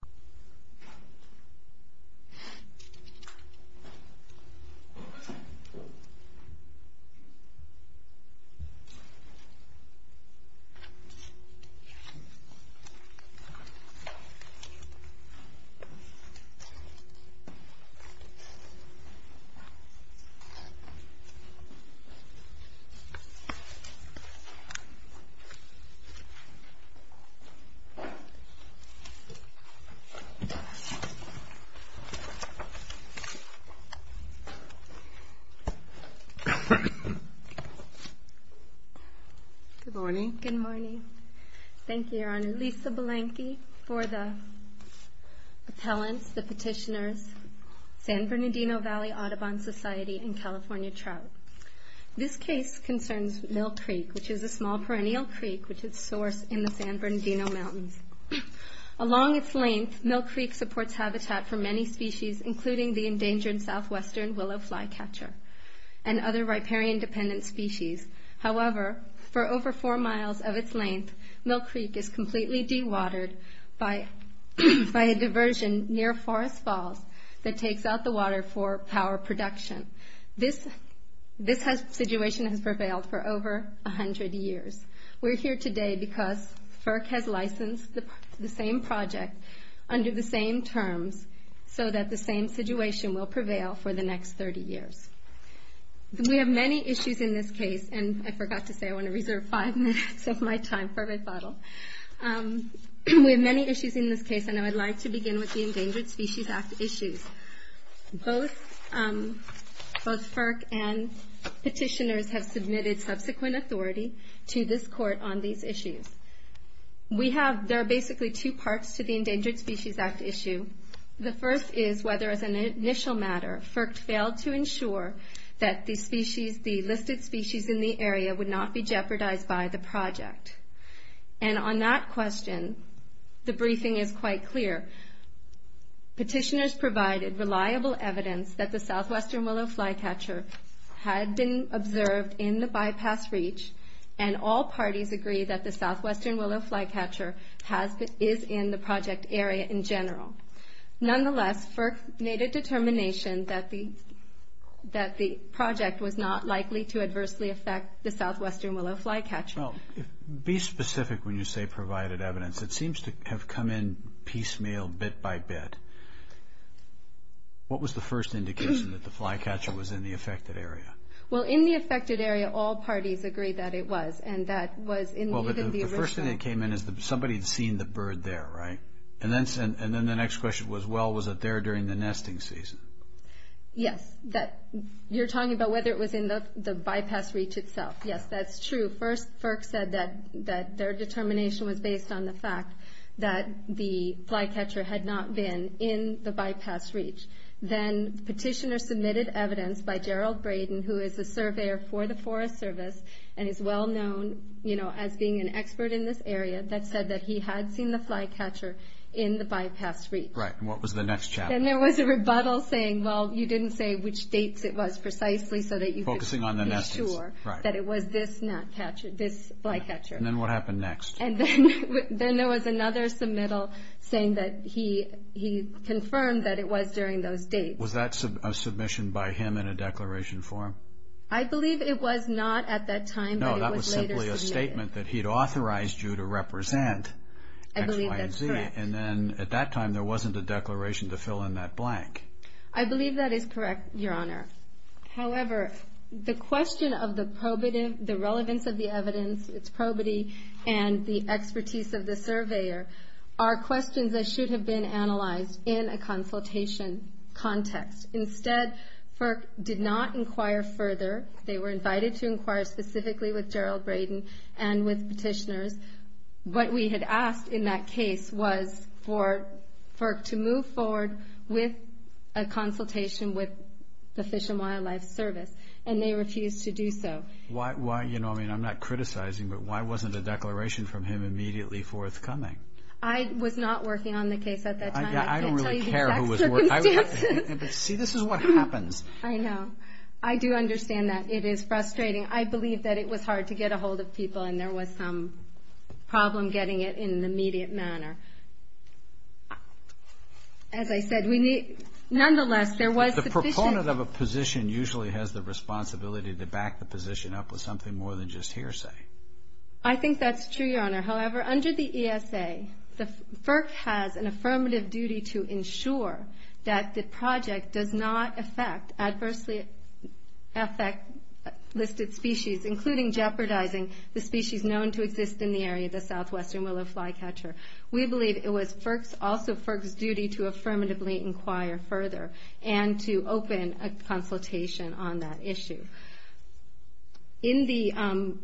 v. FEDERAL ENERGY REGULATORY Good morning. Thank you, Your Honor. Lisa Belenke for the appellants, the petitioners, San Bernardino Valley Audubon Society and California Trout. This case concerns Mill Creek, which is a small perennial creek which is sourced in the San Bernardino Mountains. Along its length, Mill Creek supports habitat for many species, including the endangered southwestern willow flycatcher and other riparian-dependent species. However, for over four miles of its length, Mill Creek is completely dewatered by a diversion near Forest Falls that takes out the water for power production. This situation has prevailed for over a hundred years. We're here today because FERC has licensed the same project under the same terms so that the same situation will prevail for the next 30 years. We have many issues in this case, and I forgot to say I want to reserve five minutes of my time for my bottle. We have many issues in this case, and I would like to begin with the Endangered Species Act issues. Both FERC and petitioners have submitted subsequent authority to this court on these issues. We have, there are basically two parts to the Endangered Species Act issue. The first is whether as an initial matter, FERC failed to ensure that the species, the listed species in the area would not be jeopardized by the project. And on that question, the briefing is quite clear. Petitioners provided reliable evidence that the Southwestern Willow Flycatcher had been observed in the bypass reach, and all parties agree that the Southwestern Willow Flycatcher is in the project area in general. Nonetheless, FERC made a determination that the project was not likely to adversely affect the Southwestern Willow Flycatcher. Well, be specific when you say provided evidence. It seems to have come in piecemeal, bit by bit. What was the first indication that the flycatcher was in the affected area? Well, in the affected area, all parties agreed that it was, and that was in the original... Well, but the first thing that came in is that somebody had seen the bird there, right? And then the next question was, well, was it there during the nesting season? Yes. You're talking about whether it was in the bypass reach itself. Yes, that's true. First, FERC said that their determination was based on the fact that the flycatcher had not been in the bypass reach. Then petitioners submitted evidence by Gerald Braden, who is a surveyor for the Forest Service, and is well known as being an expert in this area, that said that he had seen the flycatcher in the bypass reach. Right, and what was the next chapter? Then there was a rebuttal saying, well, you didn't say which dates it was precisely so that you could be sure that it was this flycatcher. And then what happened next? And then there was another submittal saying that he confirmed that it was during those dates. Was that a submission by him in a declaration form? I believe it was not at that time, but it was later submitted. No, that was simply a statement that he'd authorized you to represent X, Y, and Z. I believe that's correct. And then at that time, there wasn't a declaration to fill in that blank. I believe that is correct, Your Honor. However, the question of the probative, the relevance of the evidence, its probity, and the expertise of the surveyor are questions that should have been analyzed in a consultation context. Instead, FERC did not inquire further. They were invited to inquire specifically with Gerald Braden and with petitioners. What we had asked in that case was for FERC to move forward with a consultation with the Fish and Wildlife Service, and they refused to do so. Why, you know, I mean, I'm not criticizing, but why wasn't a declaration from him immediately forthcoming? I was not working on the case at that time. I can't tell you the exact circumstances. See, this is what happens. I know. I do understand that. It is frustrating. I believe that it was hard to get ahold of people, and there was some problem getting it in an immediate manner. As I said, we need to, nonetheless, there was the petition. But the proponent of a position usually has the responsibility to back the position up with something more than just hearsay. I think that's true, Your Honor. However, under the ESA, FERC has an affirmative duty to ensure that the project does not affect, adversely affect listed species, including jeopardizing the species known to exist in the area, the southwestern willow flycatcher. We believe it was also FERC's duty to affirmatively inquire further, and to open a consultation on that issue. In the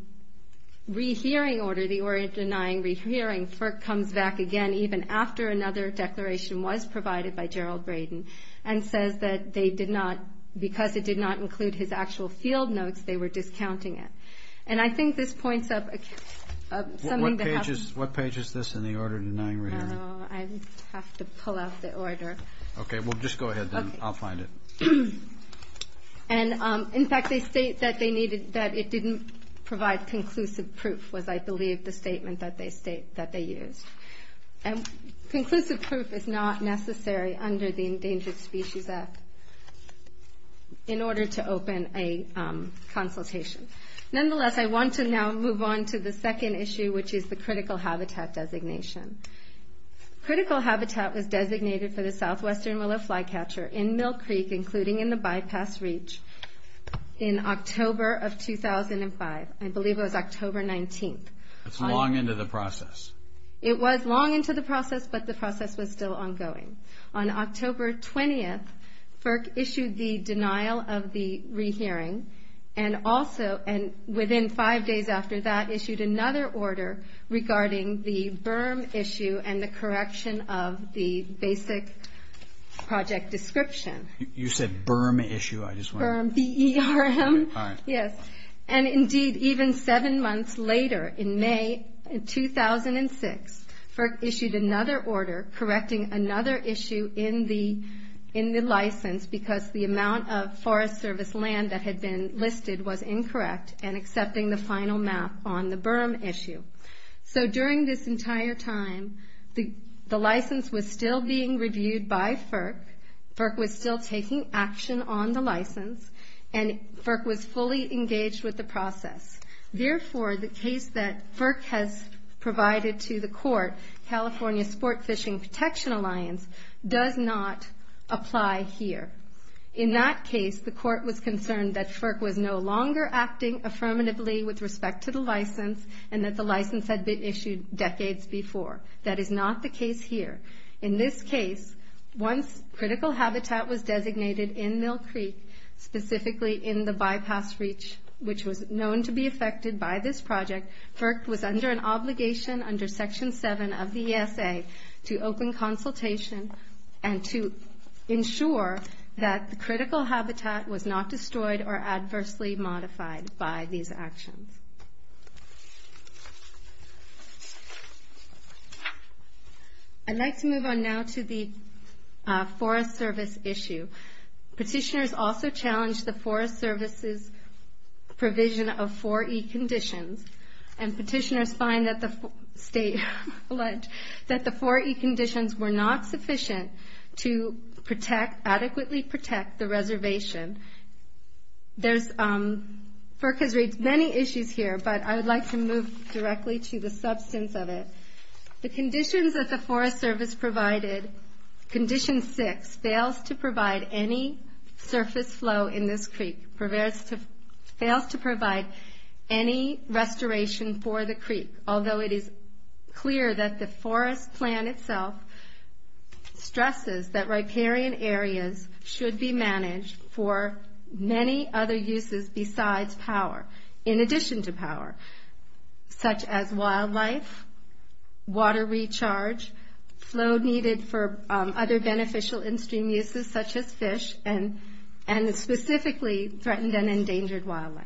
rehearing order, the Orient denying rehearing, FERC comes back again, even after another declaration was provided by Gerald Braden, and says that they did not, because it did not include his actual field notes, they were discounting it. And I think this points up something that happened. What page is this in the order denying rehearing? Oh, I have to pull out the order. Okay. Well, just go ahead then. I'll find it. And in fact, they state that it didn't provide conclusive proof, was, I believe, the statement that they used. And conclusive proof is not necessary under the Endangered Species Act. In order to open a consultation. Nonetheless, I want to now move on to the second issue, which is the critical habitat designation. Critical habitat was designated for the southwestern willow flycatcher in Mill Creek, including in the bypass reach, in October of 2005. I believe it was October 19th. That's long into the process. It was long into the process, but the process was still ongoing. On October 20th, FERC issued the denial of the rehearing. And also, and within five days after that, issued another order regarding the BIRM issue and the correction of the basic project description. You said BIRM issue, I just wanted to... BIRM, B-E-R-M. Yes. And indeed, even seven months later, in May 2006, FERC issued another order. The amount of Forest Service land that had been listed was incorrect, and accepting the final map on the BIRM issue. So during this entire time, the license was still being reviewed by FERC. FERC was still taking action on the license. And FERC was fully engaged with the process. Therefore, the case that FERC has provided to the court, California Sport Fishing Protection Alliance, does not apply here. In that case, the court was concerned that FERC was no longer acting affirmatively with respect to the license, and that the license had been issued decades before. That is not the case here. In this case, once critical habitat was designated in Mill Creek, specifically in the bypass reach, which was known to be affected by this project, FERC was under an obligation under Section 7 of the ESA to open consultation and to ensure that the critical habitat was not destroyed or adversely modified by these actions. I'd like to move on now to the Forest Service issue. Petitioners also challenged the Forest Service issue, alleged that the 4E conditions were not sufficient to adequately protect the reservation. There's, FERC has raised many issues here, but I would like to move directly to the substance of it. The conditions that the Forest Service provided, Condition 6, fails to provide any surface flow in this creek, fails to provide any restoration for the creek, although it is clear that the forest plan itself stresses that riparian areas should be managed for many other uses besides power, in addition to power, such as wildlife, water recharge, flow needed for other beneficial in-stream uses such as fish, and specifically threatened and endangered wildlife.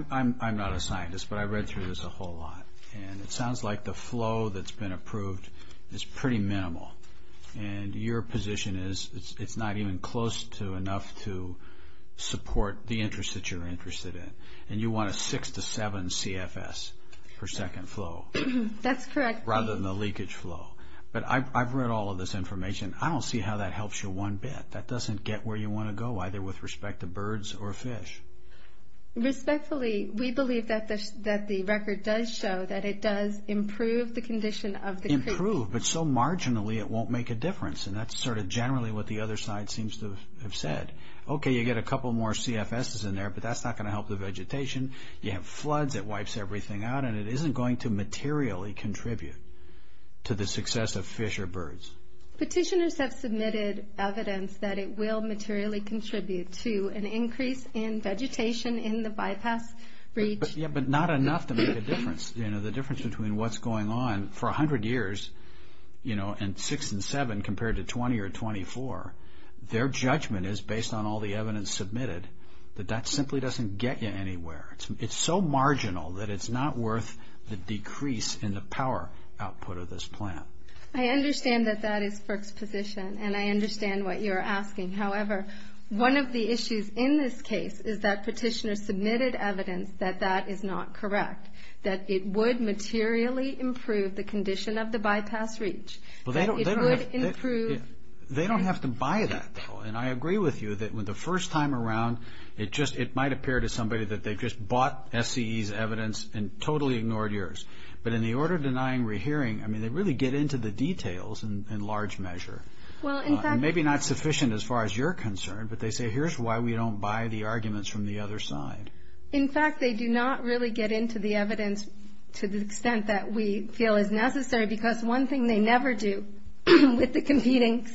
I'm not a scientist, but I read through this a whole lot, and it sounds like the flow that's been approved is pretty minimal, and your position is it's not even close to enough to support the interest that you're interested in, and you want a 6 to 7 CFS per second flow. That's correct. Rather than the leakage flow. But I've read all of this information. I don't see how that helps you one bit. That doesn't get where you want to go, either with respect to birds or fish. Respectfully, we believe that the record does show that it does improve the condition of the creek. Improve, but so marginally it won't make a difference, and that's sort of generally what the other side seems to have said. Okay, you get a couple more CFSs in there, but that's not going to help the vegetation. You have floods, it wipes everything out, and it isn't going to materially contribute to the success of fish or birds. Petitioners have submitted evidence that it will materially contribute to an increase in vegetation in the bypass breach. Yeah, but not enough to make a difference. The difference between what's going on for a hundred years, and 6 and 7 compared to 20 or 24, their judgment is, based on all the evidence submitted, that that simply doesn't get you anywhere. It's so marginal that it's not worth the decrease in the power output of this plan. I understand that that is FERC's position, and I understand what you're asking. However, one of the issues in this case is that petitioners submitted evidence that that is not correct, that it would materially improve the condition of the bypass breach. They don't have to buy that, though, and I agree with you that the first time around, it might appear to somebody that they just bought FCE's evidence and totally ignored yours. But in the order of denying rehearing, I mean, they really get into the details in large measure. Maybe not sufficient as far as you're concerned, but they say, here's why we don't buy the arguments from the other side. In fact, they do not really get into the evidence to the extent that we feel is necessary, because one thing they never do with the competing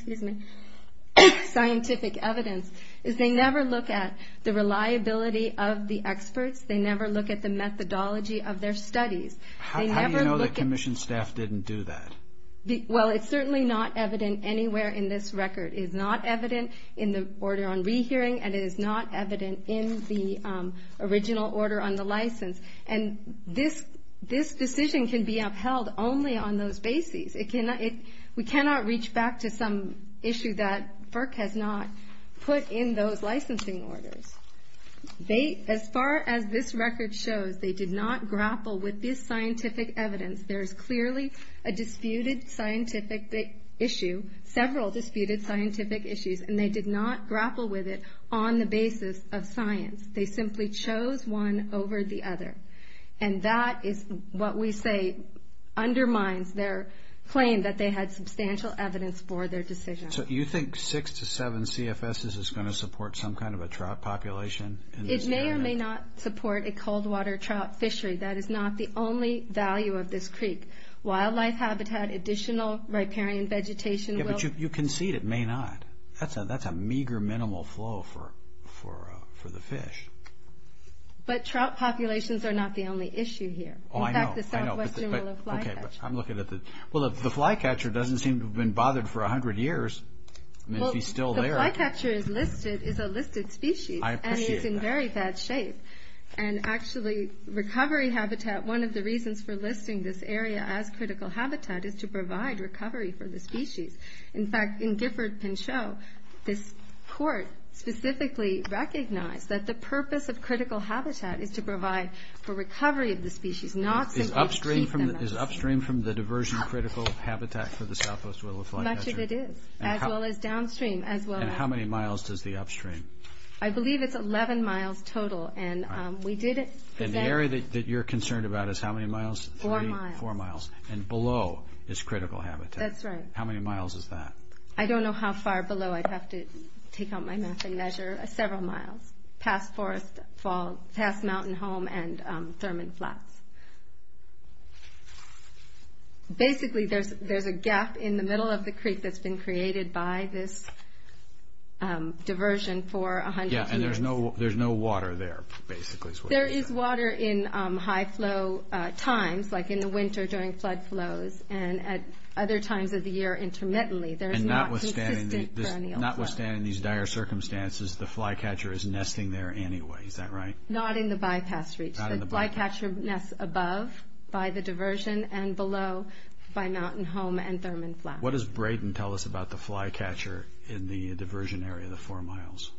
scientific evidence is they never look at the reliability of the experts. They never look at the methodology of their studies. How do you know the Commission staff didn't do that? Well, it's certainly not evident anywhere in this record. It is not evident in the order on rehearing, and it is not evident in the original order on the license. And this decision can be upheld only on those bases. We cannot reach back to some issue that FERC has not put in those licensing orders. As far as this record shows, they did not grapple with this scientific evidence. There is clearly a disputed scientific issue, several disputed scientific issues, and they did not grapple with it on the basis of science. They simply chose one over the other. And that is what we say undermines their claim that they had substantial evidence for their decision. You think six to seven CFSs is going to support some kind of a trout population? It may or may not support a cold water trout fishery. That is not the only value of this creek. Wildlife habitat, additional riparian vegetation will... You concede it may not. That's a meager minimal flow for the fish. But trout populations are not the only issue here. Oh, I know. I know. In fact, the Southwestern Willow Flycatcher... Okay, but I'm looking at the... Well, the flycatcher doesn't seem to have been bothered for a hundred years. I mean, if he's still there... Well, the flycatcher is listed, is a listed species. I appreciate that. And he's in very bad shape. And actually, recovery habitat, one of the reasons for listing this area as critical habitat is to provide recovery for the species. In fact, in Gifford, Pinchot, this court specifically recognized that the purpose of critical habitat is to provide for recovery of the species, not simply to treat them as... Is upstream from the diversion critical habitat for the Southwest Willow Flycatcher? Much of it is, as well as downstream, as well as... And how many miles does the upstream? I believe it's 11 miles total. And we did... And the area that you're concerned about is how many miles? Four miles. Four miles. And below is critical habitat. That's right. How many miles is that? I don't know how far below. I'd have to take out my map and measure. Several miles. Past forest, past mountain home, and Thurman Flats. Basically, there's a gap in the middle of the creek that's been created by this diversion for a hundred years. Yeah, and there's no water there, basically, is what you're saying. There is water in high flow times, like in the winter during flood flows, and at other times of the year, intermittently. There's not consistent perennial flow. Notwithstanding these dire circumstances, the flycatcher is nesting there anyway, is that right? Not in the bypass reach. Not in the bypass reach. The flycatcher nests above, by the diversion, and below, by mountain home and Thurman Flats. What does Braden tell us about the flycatcher in the diversion area, the four miles?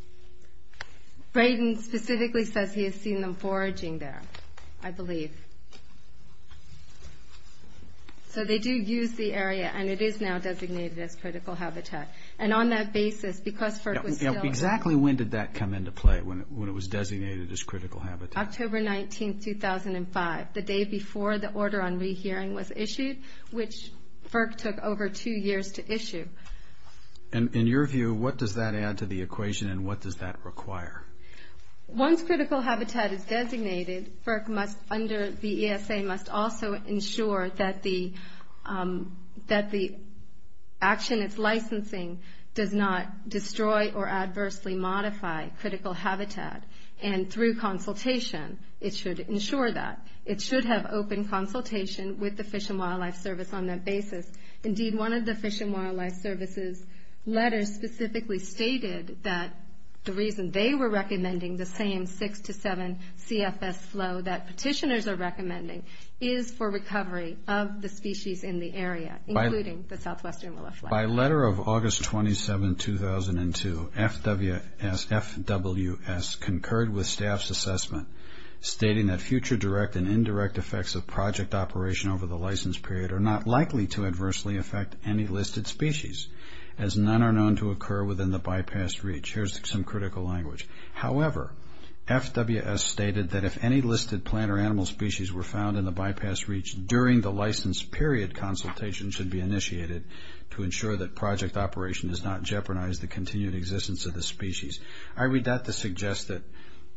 Braden specifically says he has seen them foraging there, I believe. So they do use the area, and it is now designated as critical habitat. And on that basis, because FERC was still... Yeah, exactly when did that come into play, when it was designated as critical habitat? October 19, 2005, the day before the order on rehearing was issued, which FERC took over two years to issue. In your view, what does that add to the equation, and what does that require? Once critical habitat is designated, FERC, under the ESA, must also ensure that the action it's licensing does not destroy or adversely modify critical habitat. And through consultation, it should ensure that. It should have open consultation with the Fish and Wildlife Service on that basis. Indeed, one of the Fish and Wildlife Service's letters specifically stated that the reason they were recommending the same 6-7 CFS flow that petitioners are recommending is for recovery of the species in the area, including the Southwestern Willow Flat. By letter of August 27, 2002, FWS concurred with staff's assessment, stating that future direct and indirect effects of project operation over the license period are not likely to reach. Here's some critical language. However, FWS stated that if any listed plant or animal species were found in the bypass reach during the license period, consultation should be initiated to ensure that project operation does not jeopardize the continued existence of the species. I read that to suggest that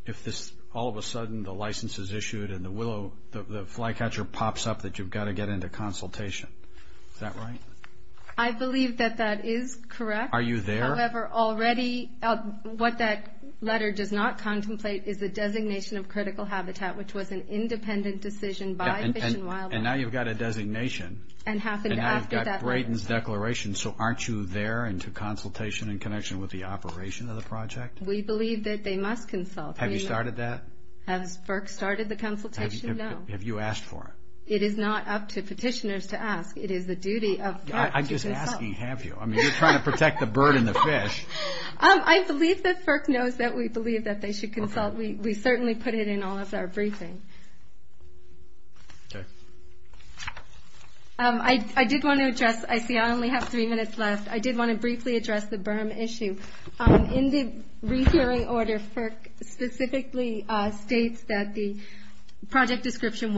if all of a sudden the license is issued and the flycatcher pops up, that you've got to get into consultation. Is that right? I believe that that is correct. Are you there? However, already, what that letter does not contemplate is the designation of critical habitat, which was an independent decision by Fish and Wildlife. And now you've got a designation. And happened after that letter. And now you've got Brayden's declaration. So aren't you there and to consultation and connection with the operation of the project? We believe that they must consult. Have you started that? Has Burke started the consultation? No. Have you asked for it? It is not up to petitioners to ask. It is the duty of... I'm just asking, have you? I mean, you're trying to protect the bird and the fish. I believe that Burke knows that we believe that they should consult. We certainly put it in all of our briefing. I did want to address... I see I only have three minutes left. I did want to briefly address the berm issue. In the rehearing order, Burke specifically states that the project description.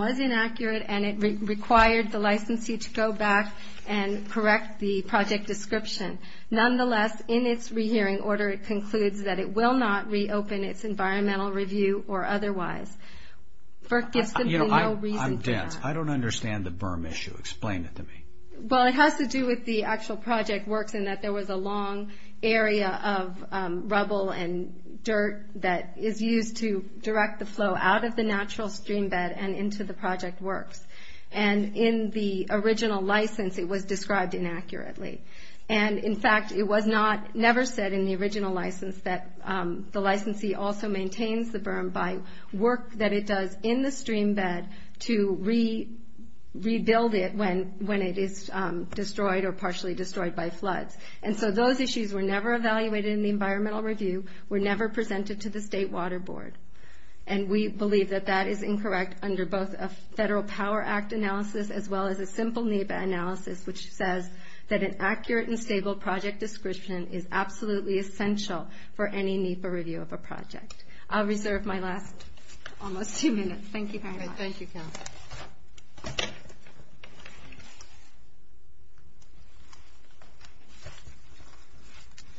Nonetheless, in its rehearing order, it concludes that it will not reopen its environmental review or otherwise. Burke gives them no reason for that. I'm dense. I don't understand the berm issue. Explain it to me. Well, it has to do with the actual project works and that there was a long area of rubble and dirt that is used to direct the flow out of the natural stream bed and into the project works. In the original license, it was described inaccurately. In fact, it was never said in the original license that the licensee also maintains the berm by work that it does in the stream bed to rebuild it when it is destroyed or partially destroyed by floods. Those issues were never evaluated in the environmental review, were never presented to the state water board. We believe that that is incorrect under both a Federal Power Act analysis as well as a simple NEPA analysis, which says that an accurate and stable project description is absolutely essential for any NEPA review of a project. I'll reserve my last almost two minutes. Thank you very much. Thank you, Counsel.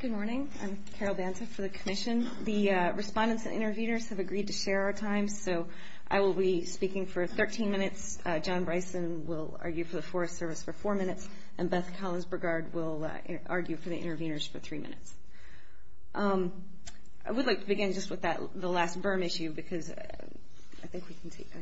Good morning. I'm Carol Banta for the Commission. The respondents and interveners have agreed to share our time, so I will be speaking for 13 minutes. John Bryson will argue for the Forest Service for four minutes, and Beth Collins-Burgard will argue for the interveners for three minutes. I would like to begin just with the last berm issue, because I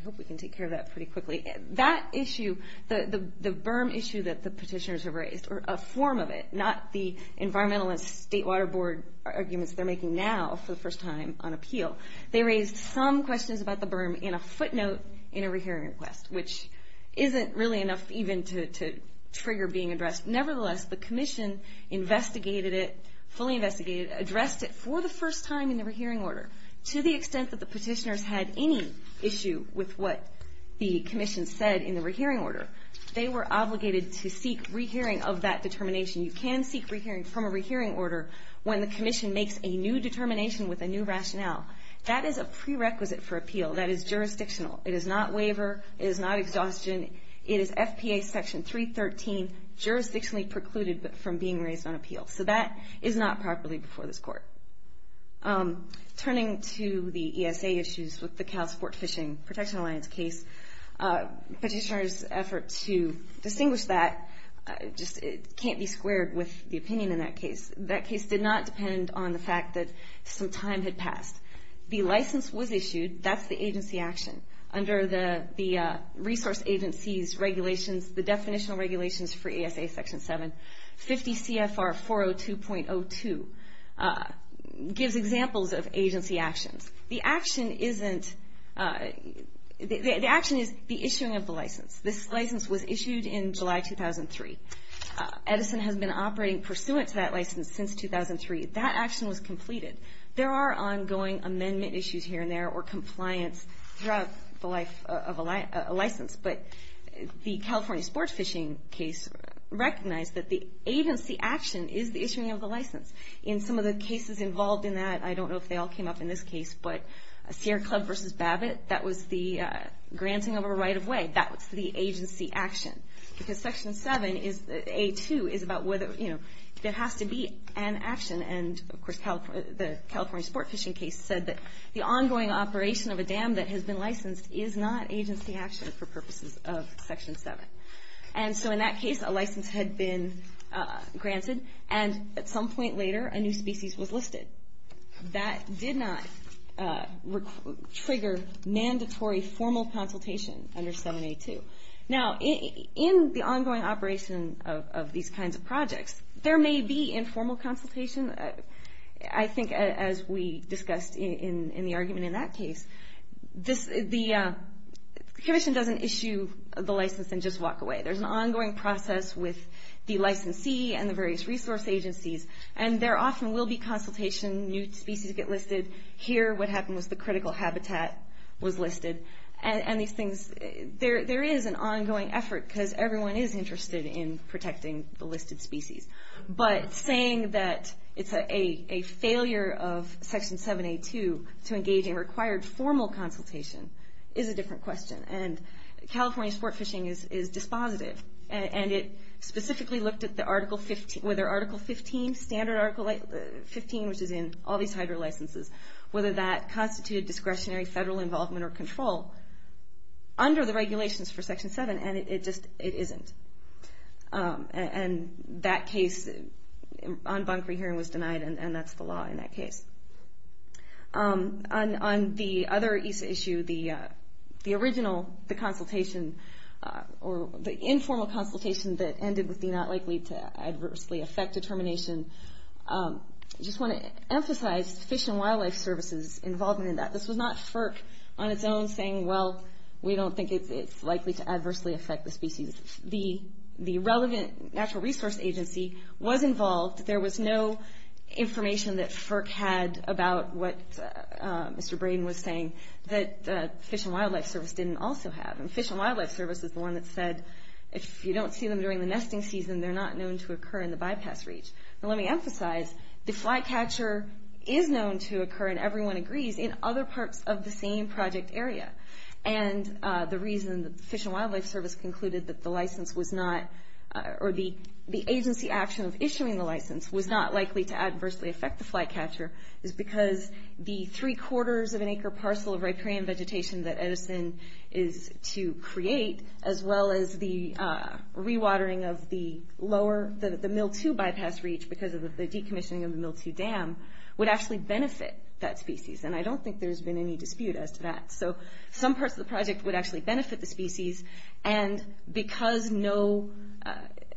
hope we can take care of that pretty quickly. That issue, the berm issue that the petitioners have raised, or a form of it, not the environmental and state water board arguments they're making now for the first time on appeal. They raised some questions about the berm in a footnote in a rehearing request, which isn't really enough even to trigger being addressed. Nevertheless, the Commission investigated it, fully investigated it, addressed it for the first time in the rehearing order. To the extent that the petitioners had any issue with what the Commission said in the rehearing order, they were obligated to seek rehearing of that determination. You can seek rehearing from a rehearing order when the Commission makes a new determination with a new rationale. That is a prerequisite for appeal. That is jurisdictional. It is not waiver. It is not exhaustion. It is FPA Section 313, jurisdictionally precluded from being raised on appeal. So that is not properly before this Court. Turning to the ESA issues with the Cal Sport Fishing Protection Alliance case, petitioners' effort to distinguish that just can't be squared with the opinion in that case. That case did not depend on the fact that some time had passed. The license was issued. That is the agency action. Under the resource agency's regulations, the definitional regulations for ESA Section 7, 50 CFR 402.02 gives examples of agency actions. The action is the issuing of the license. This license was issued in July 2003. Edison has been operating pursuant to that license since 2003. That action was completed. There are ongoing amendment issues here and there or compliance throughout the life of a license. But the California sports fishing case recognized that the agency action is the issuing of the license. In some of the cases involved in that, I don't know if they all came up in this case, but Sierra Club versus Babbitt, that was the granting of a right of way. That was the agency action. Section 7, A2, is about whether there has to be an action. The California sport fishing case said that the ongoing operation of a dam that has been licensed is not agency action for purposes of Section 7. In that case, a license had been granted. At some point later, a new species was listed. That did not trigger mandatory formal consultation under 7A2. Now, in the ongoing operation of these kinds of projects, there may be informal consultation. I think as we discussed in the argument in that case, the commission doesn't issue the license and just walk away. There's an ongoing process with the licensee and the various resource agencies. There often will be consultation. New species get listed. Here, what happened was the critical habitat was listed. There is an ongoing effort, because everyone is interested in protecting the listed species. Saying that it's a failure of Section 7A2 to engage in required formal consultation is a different question. California sport fishing is dispositive. It specifically looked at whether Article 15, standard Article 15, which is in all these hydro licenses, whether that constituted discretionary federal involvement or control under the regulations for Section 7, and it just isn't. That case on bunk rehearing was denied, and that's the law in that case. On the other EASA issue, the original, the consultation, or the informal consultation that ended with the not likely to adversely affect determination, I just want to emphasize Fish and Wildlife Services' involvement in that. This was not FERC on its own saying, well, we don't think it's likely to adversely affect the species. The relevant natural resource agency was involved. There was no information that FERC had about what Mr. Braden was saying that Fish and Wildlife Service didn't also have. Fish and Wildlife Service is the one that said if you don't see them during the nesting season, they're not known to occur in the bypass reach. Let me emphasize, the flycatcher is known to occur, and everyone agrees, in other parts of the same project area. The reason that Fish and Wildlife Service concluded that the license was not, or the agency action of issuing the license was not likely to adversely affect the flycatcher is because the three quarters of an acre parcel of riparian vegetation that Edison is to create, as well as the rewatering of the lower, the mill two bypass reach, because of the decommissioning of the mill two dam, would actually benefit that species. I don't think there's been any dispute as to that. Some parts of the project would actually benefit the species, and because no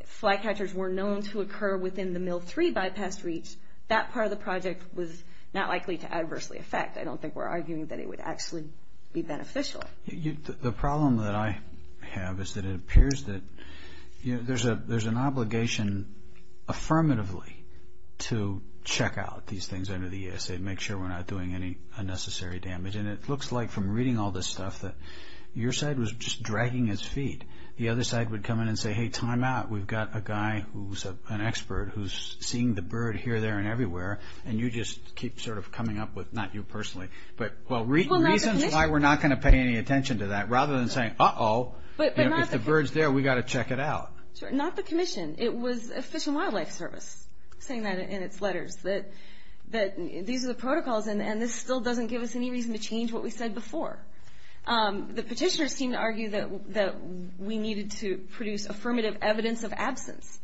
flycatchers were known to occur within the mill three bypass reach, that part of the project was not likely to adversely affect. I don't think we're arguing that it would actually be beneficial. The problem that I have is that it appears that there's an obligation, affirmatively, to check out these things under the ESA, make sure we're not doing any unnecessary damage. It looks like from reading all this stuff that your side was just dragging its feet. The other side would come in and say, hey, time out. We've got a guy who's an expert who's seeing the bird here, there, and everywhere, and you just keep coming up with, not you personally, but reasons why we're not going to pay any attention to that, rather than saying, uh-oh, if the bird's there, we've got to check it out. Not the commission. It was Fish and Wildlife Service saying that in its letters, that these are the protocols, and this still doesn't give us any reason to change what we said before. The petitioners seem to argue that we needed to produce affirmative evidence of absence,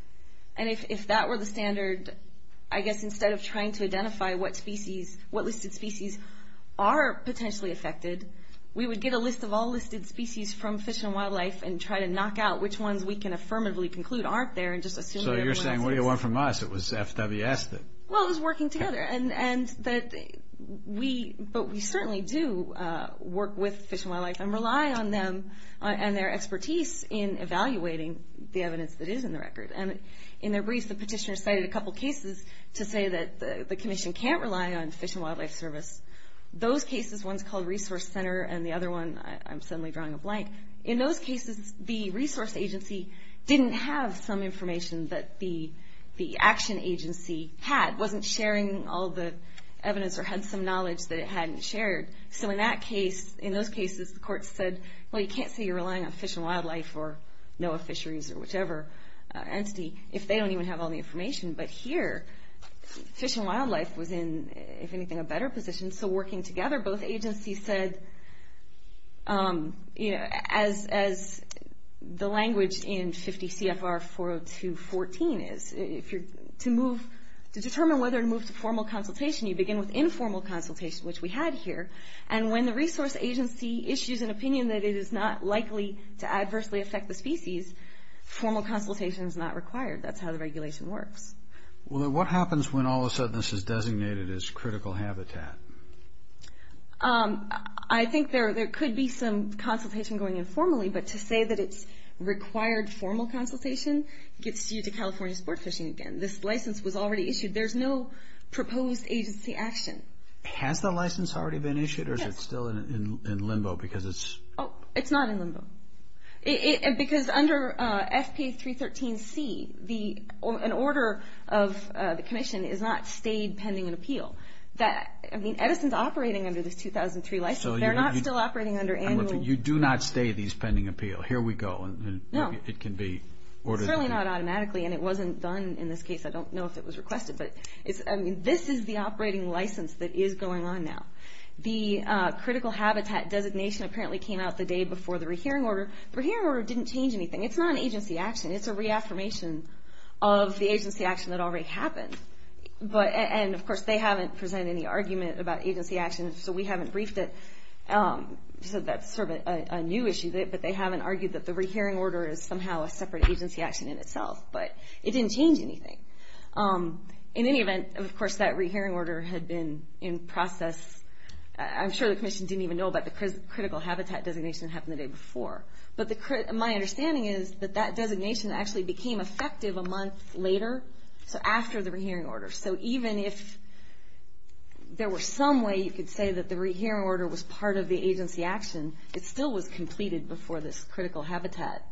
and if that were the standard, I guess instead of trying to identify what species, what listed species are potentially affected, we would get a list of all listed species from Fish and Wildlife and try to knock out which ones we can affirmatively conclude aren't there, and just assume that everyone else is. So you're saying, what do you want from us? It was FWS that... Well, it was working together, but we certainly do work with Fish and Wildlife and rely on them and their expertise in evaluating the evidence that is in the record, and in their briefs, the petitioners cited a couple cases to say that the commission can't rely on Fish and Wildlife Service. Those cases, one's called Resource Center, and the other one, I'm suddenly drawing a blank, in those cases, the resource agency didn't have some information that the action agency had, wasn't sharing all the evidence or had some knowledge that it hadn't shared, so in that case, in those cases, the court said, well, you can't say you're relying on Fish and Wildlife or NOAA Fisheries or whichever entity if they don't even have all the information, but here, Fish and Wildlife was in, if anything, a better position, so working together, both agencies said, as the language in 50 CFR 40214 is, to determine whether to move to formal consultation, you begin with informal consultation, which we had here, and when the resource agency issues an opinion that it is not likely to adversely affect the species, formal consultation is not required, that's how the regulation works. What happens when all of a sudden this is designated as critical habitat? I think there could be some consultation going in formally, but to say that it's required formal consultation gets you to California Sport Fishing again. This license was already issued, there's no proposed agency action. Has the license already been issued, or is it still in limbo, because it's... It's not in limbo, because under FPA 313C, an order of the commission is not stayed pending an appeal. Edison's operating under this 2003 license, they're not still operating under annual... You do not stay these pending appeal, here we go, and it can be ordered... Certainly not automatically, and it wasn't done in this case, I don't know if it was that is going on now. The critical habitat designation apparently came out the day before the rehearing order. The rehearing order didn't change anything, it's not an agency action, it's a reaffirmation of the agency action that already happened, and of course they haven't presented any argument about agency action, so we haven't briefed it, so that's sort of a new issue, but they haven't argued that the rehearing order is somehow a separate agency action in itself, but it didn't change anything. In any event, of course that rehearing order had been in process, I'm sure the commission didn't even know about the critical habitat designation that happened the day before, but my understanding is that that designation actually became effective a month later, so after the rehearing order, so even if there were some way you could say that the rehearing order was part of the agency action, it still was completed before this critical habitat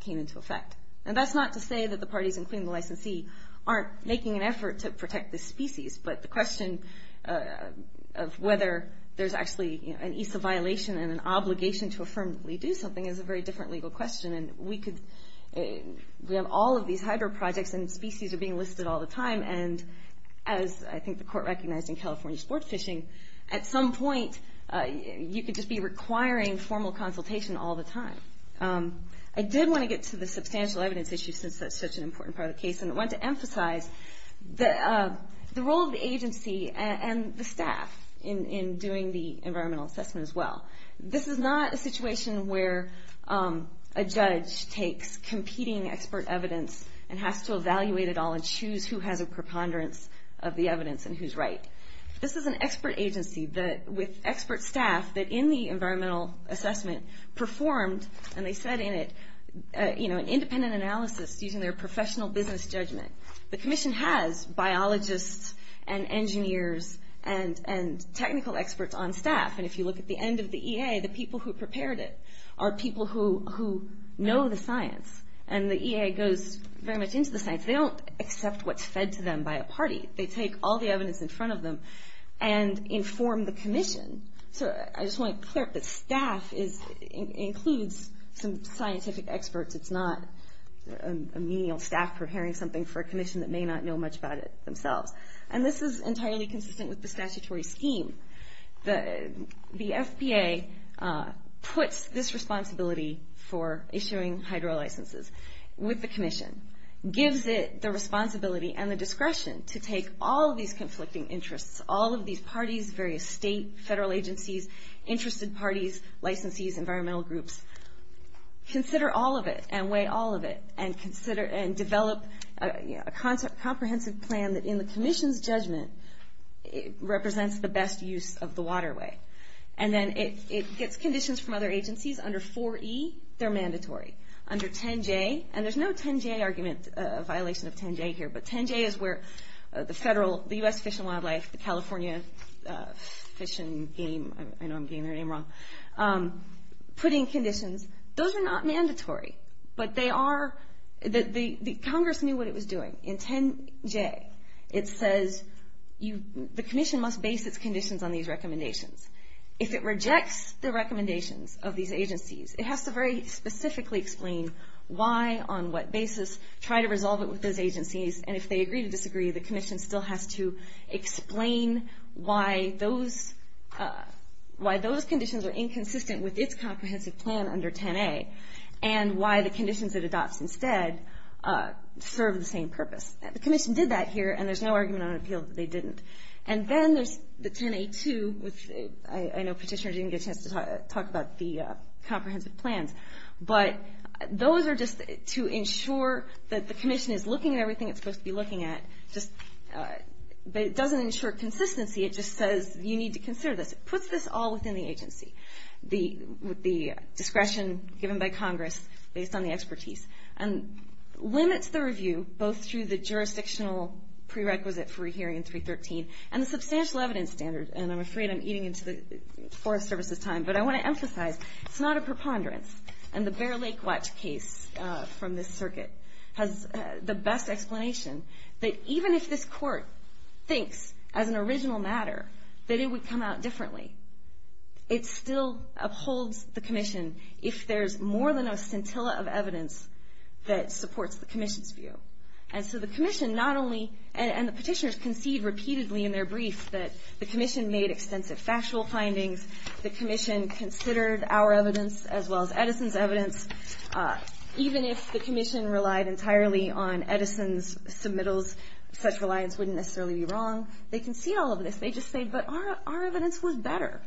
came into effect, and that's not to say that the parties including the licensee aren't making an effort to protect this species, but the question of whether there's actually an ESA violation and an obligation to affirm that we do something is a very different legal question, and we have all of these hydro projects and species are being listed all the time, and as I think the court recognized in California sport fishing, at some point you could just be requiring formal consultation all the time. I did want to get to the substantial evidence issue since that's such an important part of the case, and I want to emphasize the role of the agency and the staff in doing the environmental assessment as well. This is not a situation where a judge takes competing expert evidence and has to evaluate it all and choose who has a preponderance of the evidence and who's right. This is an expert agency with expert staff that in the environmental assessment performed, and they said in it, an independent analysis using their professional business judgment. The commission has biologists and engineers and technical experts on staff, and if you look at the end of the EA, the people who prepared it are people who know the science, and the EA goes very much into the science. They don't accept what's fed to them by a party. They take all the evidence in front of them and inform the commission. So I just want to clear up that staff includes some scientific experts. It's not a menial staff preparing something for a commission that may not know much about it themselves, and this is entirely consistent with the statutory scheme. The FBA puts this responsibility for discretion to take all of these conflicting interests, all of these parties, various state, federal agencies, interested parties, licensees, environmental groups, consider all of it and weigh all of it and develop a comprehensive plan that in the commission's judgment represents the best use of the waterway. And then it gets conditions from other agencies under 4E, they're mandatory. Under 10J, and there's no 10J argument, a violation of 10J here, but 10J is where the federal, the U.S. Fish and Wildlife, the California Fish and Game, I know I'm getting their name wrong, put in conditions. Those are not mandatory, but they are, Congress knew what it was doing. In 10J, it says the commission must base its conditions on these recommendations. If it rejects the recommendations of these agencies, it has to very specifically explain why, on what basis, try to resolve it with those agencies, and if they agree to disagree, the commission still has to explain why those conditions are inconsistent with its comprehensive plan under 10A, and why the conditions it adopts instead serve the same purpose. The commission did that here, and there's no argument on appeal that they didn't. And then there's the 10A2, which I know Petitioner didn't get a chance to talk about the comprehensive plans, but those are just to ensure that the commission is looking at everything it's supposed to be looking at, but it doesn't ensure consistency, it just says you need to consider this. It puts this all within the agency, the discretion given by Congress based on the expertise, and limits the review both through the jurisdictional prerequisite for a hearing in 313, and the substantial evidence standard, and I'm afraid I'm eating into the Forest Service's time, but I want to emphasize, it's not a preponderance, and the Bear Lake Watch case from this circuit has the best explanation, that even if this court thinks, as an original matter, that it would come out differently, it still upholds the commission if there's more than a scintilla of evidence that supports the commission's view. And so the commission not only, and the petitioners concede repeatedly in their briefs that the commission made extensive factual findings, the commission considered our evidence as well as Edison's evidence, even if the commission relied entirely on Edison's submittals, such reliance wouldn't necessarily be wrong, they can see all of this, they just say, but our evidence was better.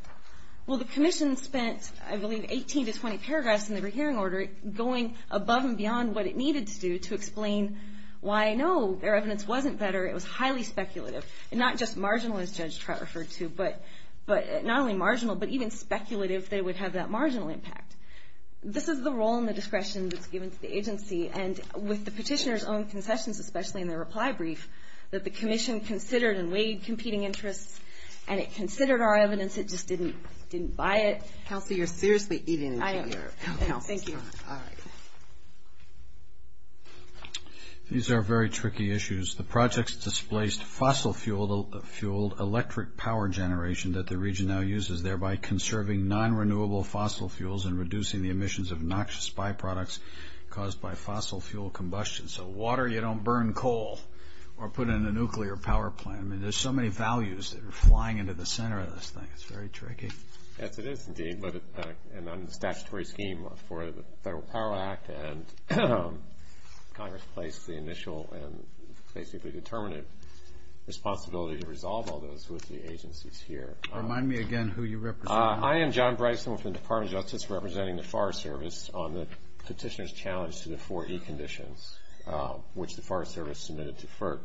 Well the commission spent, I believe, 18 to 20 paragraphs in the hearing order going above and beyond what it needed to do to explain why, no, their evidence wasn't better, it was highly speculative, and not just marginal, as Judge Trout referred to, but not only marginal, but even speculative, they would have that marginal impact. This is the role and the discretion that's given to the agency, and with the petitioners' own concessions, especially in their reply brief, that the commission considered and weighed competing interests, and it considered our evidence, it just didn't buy it. Counsel, you're seriously eating into your counsel's time, all right. These are very tricky issues. The projects displaced fossil-fueled electric power generation that the region now uses, thereby conserving non-renewable fossil fuels and reducing the emissions of noxious byproducts caused by fossil fuel combustion. So water, you don't burn coal, or put in a nuclear power plant. I mean, there's so many values that are flying into the center of this thing, it's very tricky. Yes, it is indeed, but in the statutory scheme for the Federal Power Act, and Congress placed the initial and basically determinative responsibility to resolve all those with the agencies here. Remind me again who you represent. I am John Bryson with the Department of Justice, representing the Forest Service on the petitioner's challenge to the four E conditions, which the Forest Service submitted to FERC.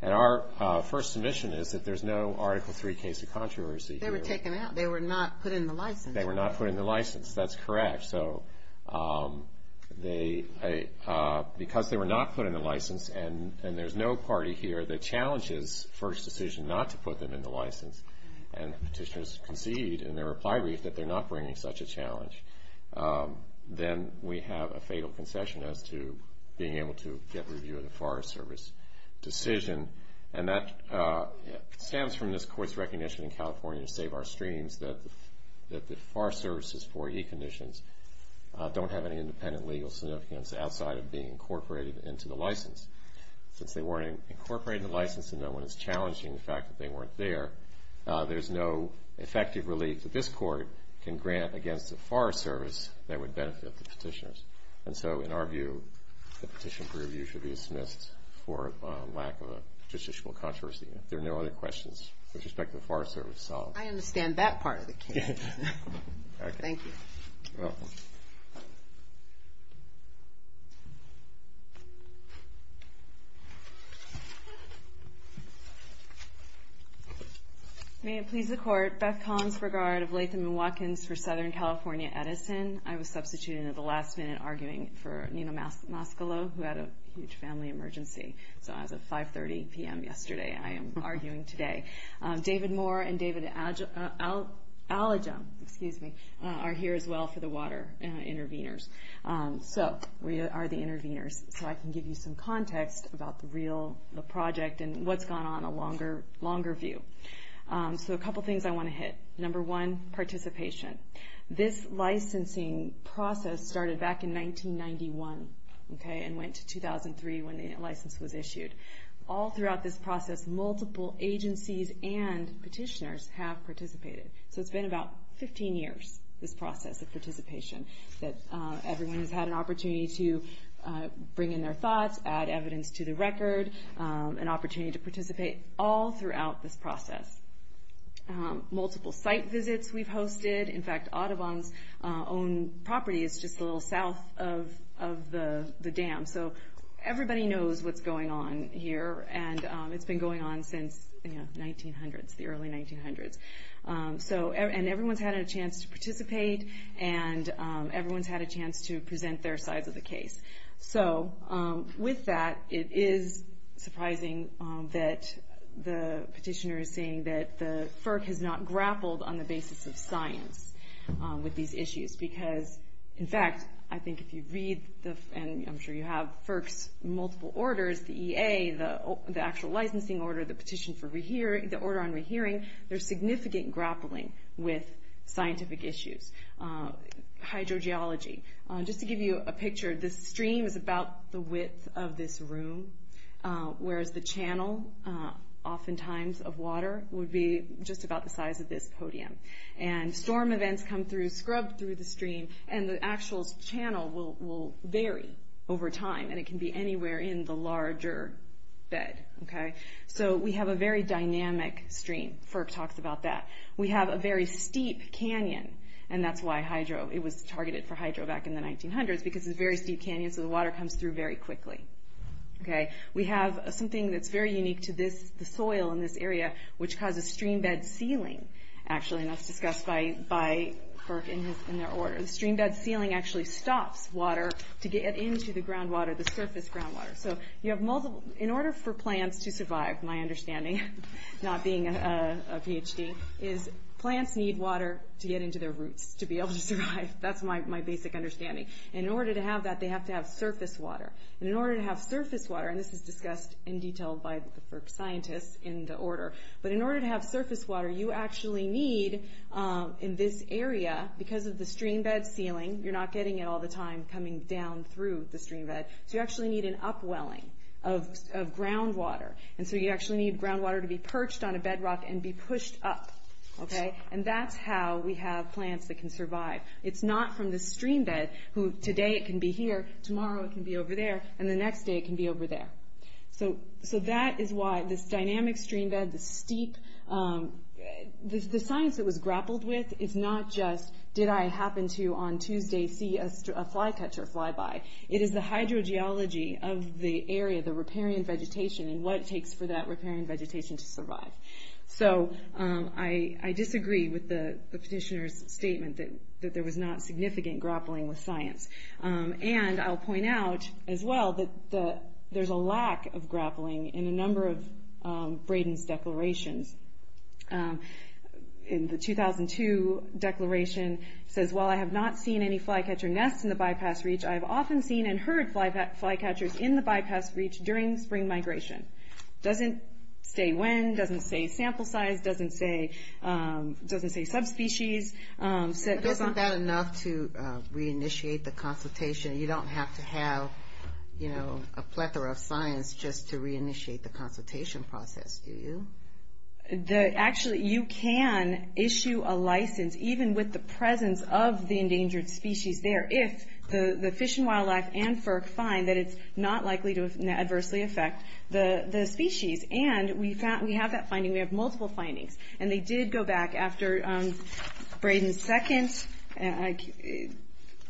And our first submission is that there's no Article III case of controversy here. They were taken out. They were not put in the license. They were not put in the license, that's correct. So because they were not put in the license and there's no party here that challenges FERC's decision not to put them in the license, and petitioners concede in their reply brief that they're not bringing such a challenge, then we have a fatal concession as to being able to get review of the Forest Service decision. And that stems from this Court's recognition in California, to save our streams, that the Forest Service's four E conditions don't have any independent legal significance outside of being incorporated into the license. Since they weren't incorporated in the license and no one is challenging the fact that they weren't there, there's no effective relief that this Court can grant against the Forest Service that would benefit the petitioners. And so in our view, the petition for review should be dismissed for a lack of a justiciable controversy. If there are no other questions with respect to the Forest Service solved. I understand that part of the case. Thank you. May it please the Court, Beth Collins for guard of Latham and Watkins for Southern and at the last minute arguing for Nino Mascalo, who had a huge family emergency. So as of 5.30 p.m. yesterday, I am arguing today. David Moore and David Alige, excuse me, are here as well for the water intervenors. So we are the intervenors. So I can give you some context about the real, the project, and what's gone on a longer view. So a couple things I want to hit. Number one, participation. This licensing process started back in 1991, okay, and went to 2003 when the license was issued. All throughout this process, multiple agencies and petitioners have participated. So it's been about 15 years, this process of participation, that everyone has had an opportunity to bring in their thoughts, add evidence to the record, an opportunity to participate, all throughout this process. Multiple site visits we've hosted. In fact, Audubon's own property is just a little south of the dam. So everybody knows what's going on here, and it's been going on since the early 1900s. So, and everyone's had a chance to participate, and everyone's had a chance to present their sides of the case. So with that, it is surprising that the petitioner is saying that the FERC has not grappled on the basis of science with these issues. Because, in fact, I think if you read, and I'm sure you have, FERC's multiple orders, the EA, the actual licensing order, the petition for re-hearing, the order on re-hearing, there's significant grappling with scientific issues. Hydrogeology. Just to give you a picture, this stream is about the width of this room, whereas the channel, oftentimes of water, would be just about the size of this podium. And storm events come through, scrub through the stream, and the actual channel will vary over time, and it can be anywhere in the larger bed. So we have a very dynamic stream. FERC talks about that. We have a very steep canyon, and that's why hydro, it was targeted for hydro back in the 1900s, because it's a very steep canyon, so the water comes through very quickly. We have something that's very unique to this, the soil in this area, which causes stream bed sealing, actually, and that's discussed by FERC in their order. The stream bed sealing actually stops water to get into the groundwater, the surface groundwater. So you have multiple, in order for plants to survive, my understanding, not being a PhD, is plants need water to get into their roots to be able to survive. That's my basic understanding. In order to have that, they have to have surface water. And in order to have surface water, and this is discussed in detail by the FERC scientists in the order, but in order to have surface water, you actually need, in this area, because of the stream bed sealing, you're not getting it all the time coming down through the stream bed, so you actually need an upwelling of groundwater, and so you actually need groundwater to be perched on a bedrock and be pushed up, okay? And that's how we have plants that can survive. It's not from the stream bed, who today it can be here, tomorrow it can be over there, and the next day it can be over there. So that is why this dynamic stream bed, the steep, the science that was grappled with is not just, did I happen to, on Tuesday, see a flycatcher fly by? It is the hydrogeology of the area, the riparian vegetation, and what it takes for that riparian vegetation to survive. So I disagree with the petitioner's statement that there was not significant grappling with science. And I'll point out, as well, that there's a lack of grappling in a number of Brayden's declarations. In the 2002 declaration, it says, while I have not seen any flycatcher nests in the bypass reach, I have often seen and heard flycatchers in the bypass reach during spring migration. Doesn't say when, doesn't say sample size, doesn't say subspecies. Isn't that enough to reinitiate the consultation? You don't have to have a plethora of science just to reinitiate the consultation process, do you? Actually, you can issue a license, even with the presence of the endangered species there, if the Fish and Wildlife and FERC find that it's not likely to adversely affect the species. And we have that finding, we have multiple findings. And they did go back after Brayden's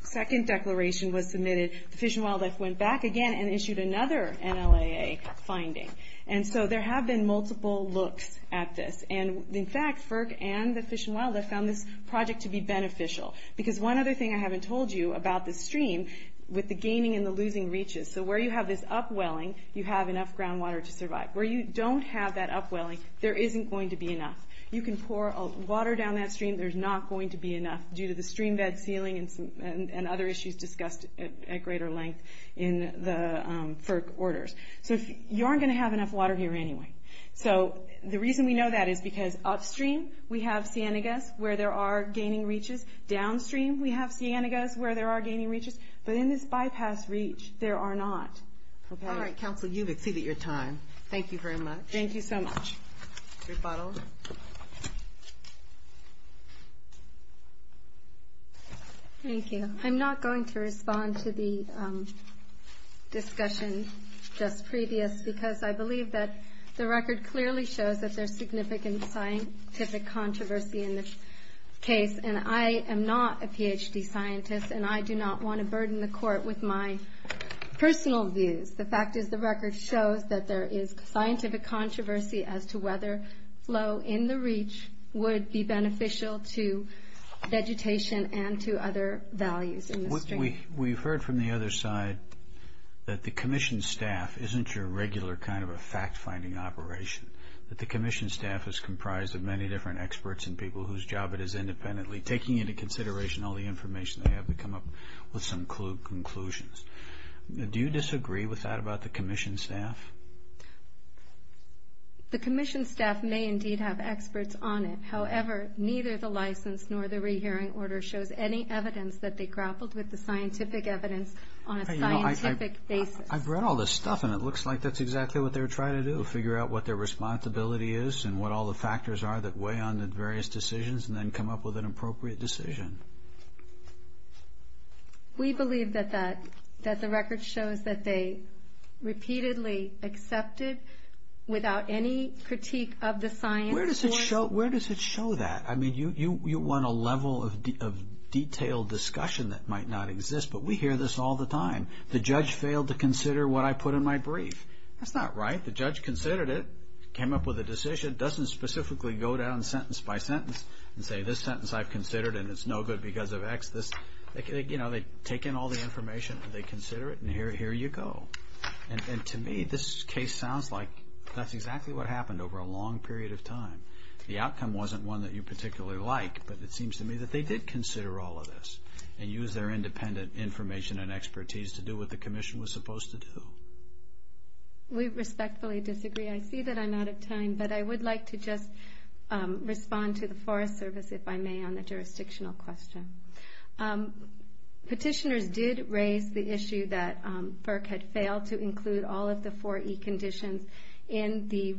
second declaration was submitted, the Fish and Wildlife went back again and issued another NLAA finding. And so there have been multiple looks at this. And in fact, FERC and the Fish and Wildlife found this project to be beneficial. Because one other thing I haven't told you about this stream, with the gaining and the losing reaches, so where you have this upwelling, you have enough groundwater to survive. Where you don't have that upwelling, there isn't going to be enough. You can pour water down that stream, there's not going to be enough, due to the stream bed ceiling and other issues discussed at greater length in the FERC orders. So you aren't going to have enough water here anyway. So the reason we know that is because upstream we have Cienegas, where there are gaining reaches. Downstream we have Cienegas, where there are gaining reaches. But in this bypass reach, there are not. All right, Council, you've exceeded your time. Thank you very much. Thank you so much. Rebuttal? Thank you. I'm not going to respond to the discussion just previous, because I believe that the record clearly shows that there's significant scientific controversy in this case. And I am not a PhD scientist, and I do not want to burden the court with my personal views. The fact is the record shows that there is scientific controversy as to whether flow in the reach would be beneficial to vegetation and to other values in the stream. We've heard from the other side that the Commission staff isn't your regular kind of a fact-finding operation. That the Commission staff is comprised of many different experts and people whose job it is independently, taking into consideration all the information they have to come up with some conclusions. Do you disagree with that about the Commission staff? The Commission staff may indeed have experts on it. However, neither the license nor the rehearing order shows any evidence that they grappled with the scientific evidence on a scientific basis. I've read all this stuff, and it looks like that's exactly what they were trying to do, figure out what their responsibility is and what all the factors are that weigh on the various decisions, and then come up with an appropriate decision. We believe that the record shows that they repeatedly accepted without any critique of the science. Where does it show that? I mean, you want a level of detailed discussion that might not exist, but we hear this all the time. The judge failed to consider what I put in my brief. That's not right. The judge considered it, came up with a decision, doesn't specifically go down sentence by sentence and say, this sentence I've considered and it's no good because of X. They take in all the information, they consider it, and here you go. And to me, this case sounds like that's exactly what happened over a long period of time. The outcome wasn't one that you particularly like, but it seems to me that they did consider all of this and use their independent information and expertise to do what the Commission was supposed to do. We respectfully disagree. I see that I'm out of time, but I would like to just respond to the Forest Service, if I may, on the jurisdictional question. Petitioners did raise the issue that FERC had failed to include all of the four E conditions in the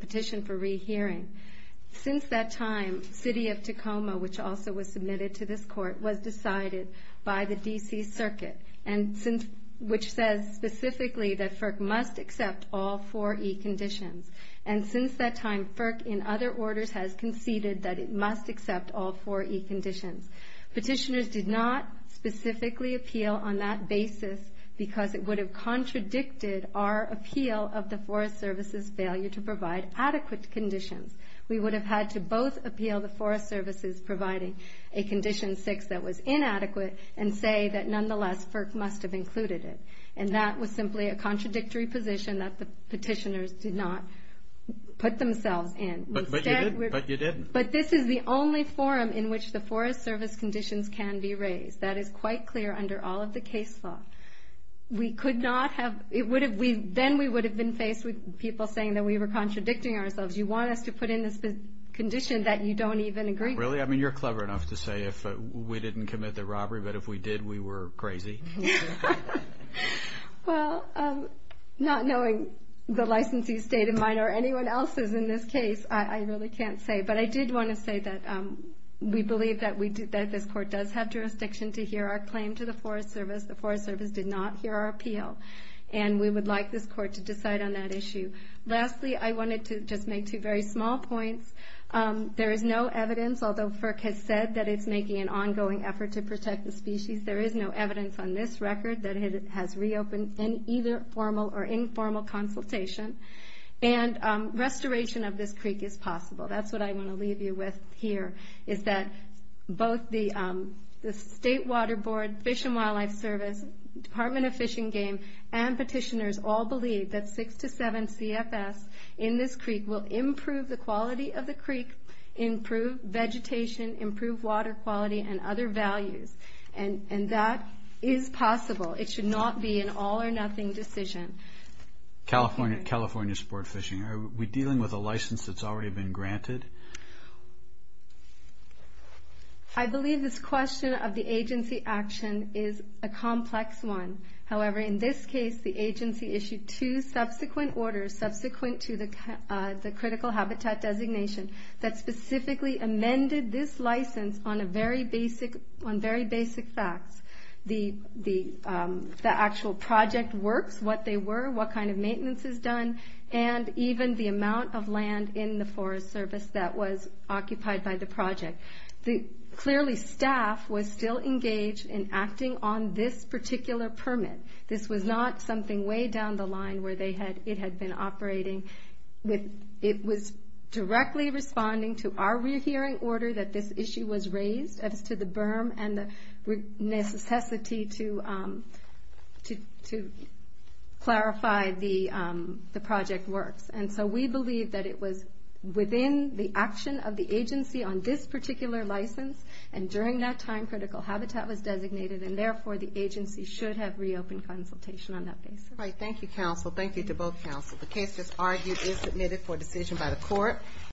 petition for rehearing. Since that time, City of Tacoma, which also was submitted to this court, was decided by the D.C. Circuit, which says specifically that FERC must accept all four E conditions. And since that time, FERC, in other orders, has conceded that it must accept all four E conditions. Petitioners did not specifically appeal on that basis because it would have contradicted our appeal of the Forest Service's failure to provide adequate conditions. We would have had to both appeal the Forest Service's providing a Condition 6 that was inadequate and say that, nonetheless, FERC must have included it. And that was simply a contradictory position that the petitioners did not put themselves in. But you did. But this is the only forum in which the Forest Service conditions can be raised. That is quite clear under all of the case law. We could not have, then we would have been faced with people saying that we were contradicting ourselves. You want us to put in this condition that you don't even agree with. Really? I mean, you're clever enough to say if we didn't commit the robbery, but if we did, we were crazy. Well, not knowing the licensee's state of mind or anyone else's in this case, I really can't say. But I did want to say that we believe that this court does have jurisdiction to hear our claim to the Forest Service. The Forest Service did not hear our appeal. And we would like this court to decide on that issue. Lastly, I wanted to just make two very small points. There is no evidence, although FERC has said that it's making an ongoing effort to protect the species, there is no evidence on this record that it has reopened in either formal or informal consultation. And restoration of this creek is possible. That's what I want to leave you with here, is that both the State Water Board, Fish and Wildlife Service, Department of Fish and Game, and petitioners all believe that 6 to 7 CFS in this creek will improve the quality of the creek, improve vegetation, improve water quality, and other values. And that is possible. It should not be an all or nothing decision. California Sport Fishing. Are we dealing with a license that's already been granted? I believe this question of the agency action is a complex one. However, in this case, the agency issued two subsequent orders, subsequent to the critical habitat designation, that specifically amended this license on very basic facts. The actual project works, what they were, what kind of maintenance is done, and even the amount of land in the Forest Service that was occupied by the project. Clearly, staff was still engaged in acting on this particular permit. This was not something way down the line where it had been operating. It was directly responding to our re-hearing order that this issue was raised, as to the action of the agency on this particular license, and during that time, critical habitat was designated, and therefore, the agency should have reopened consultation on that basis. Thank you, counsel. Thank you to both counsel. The case just argued is submitted for decision by the court.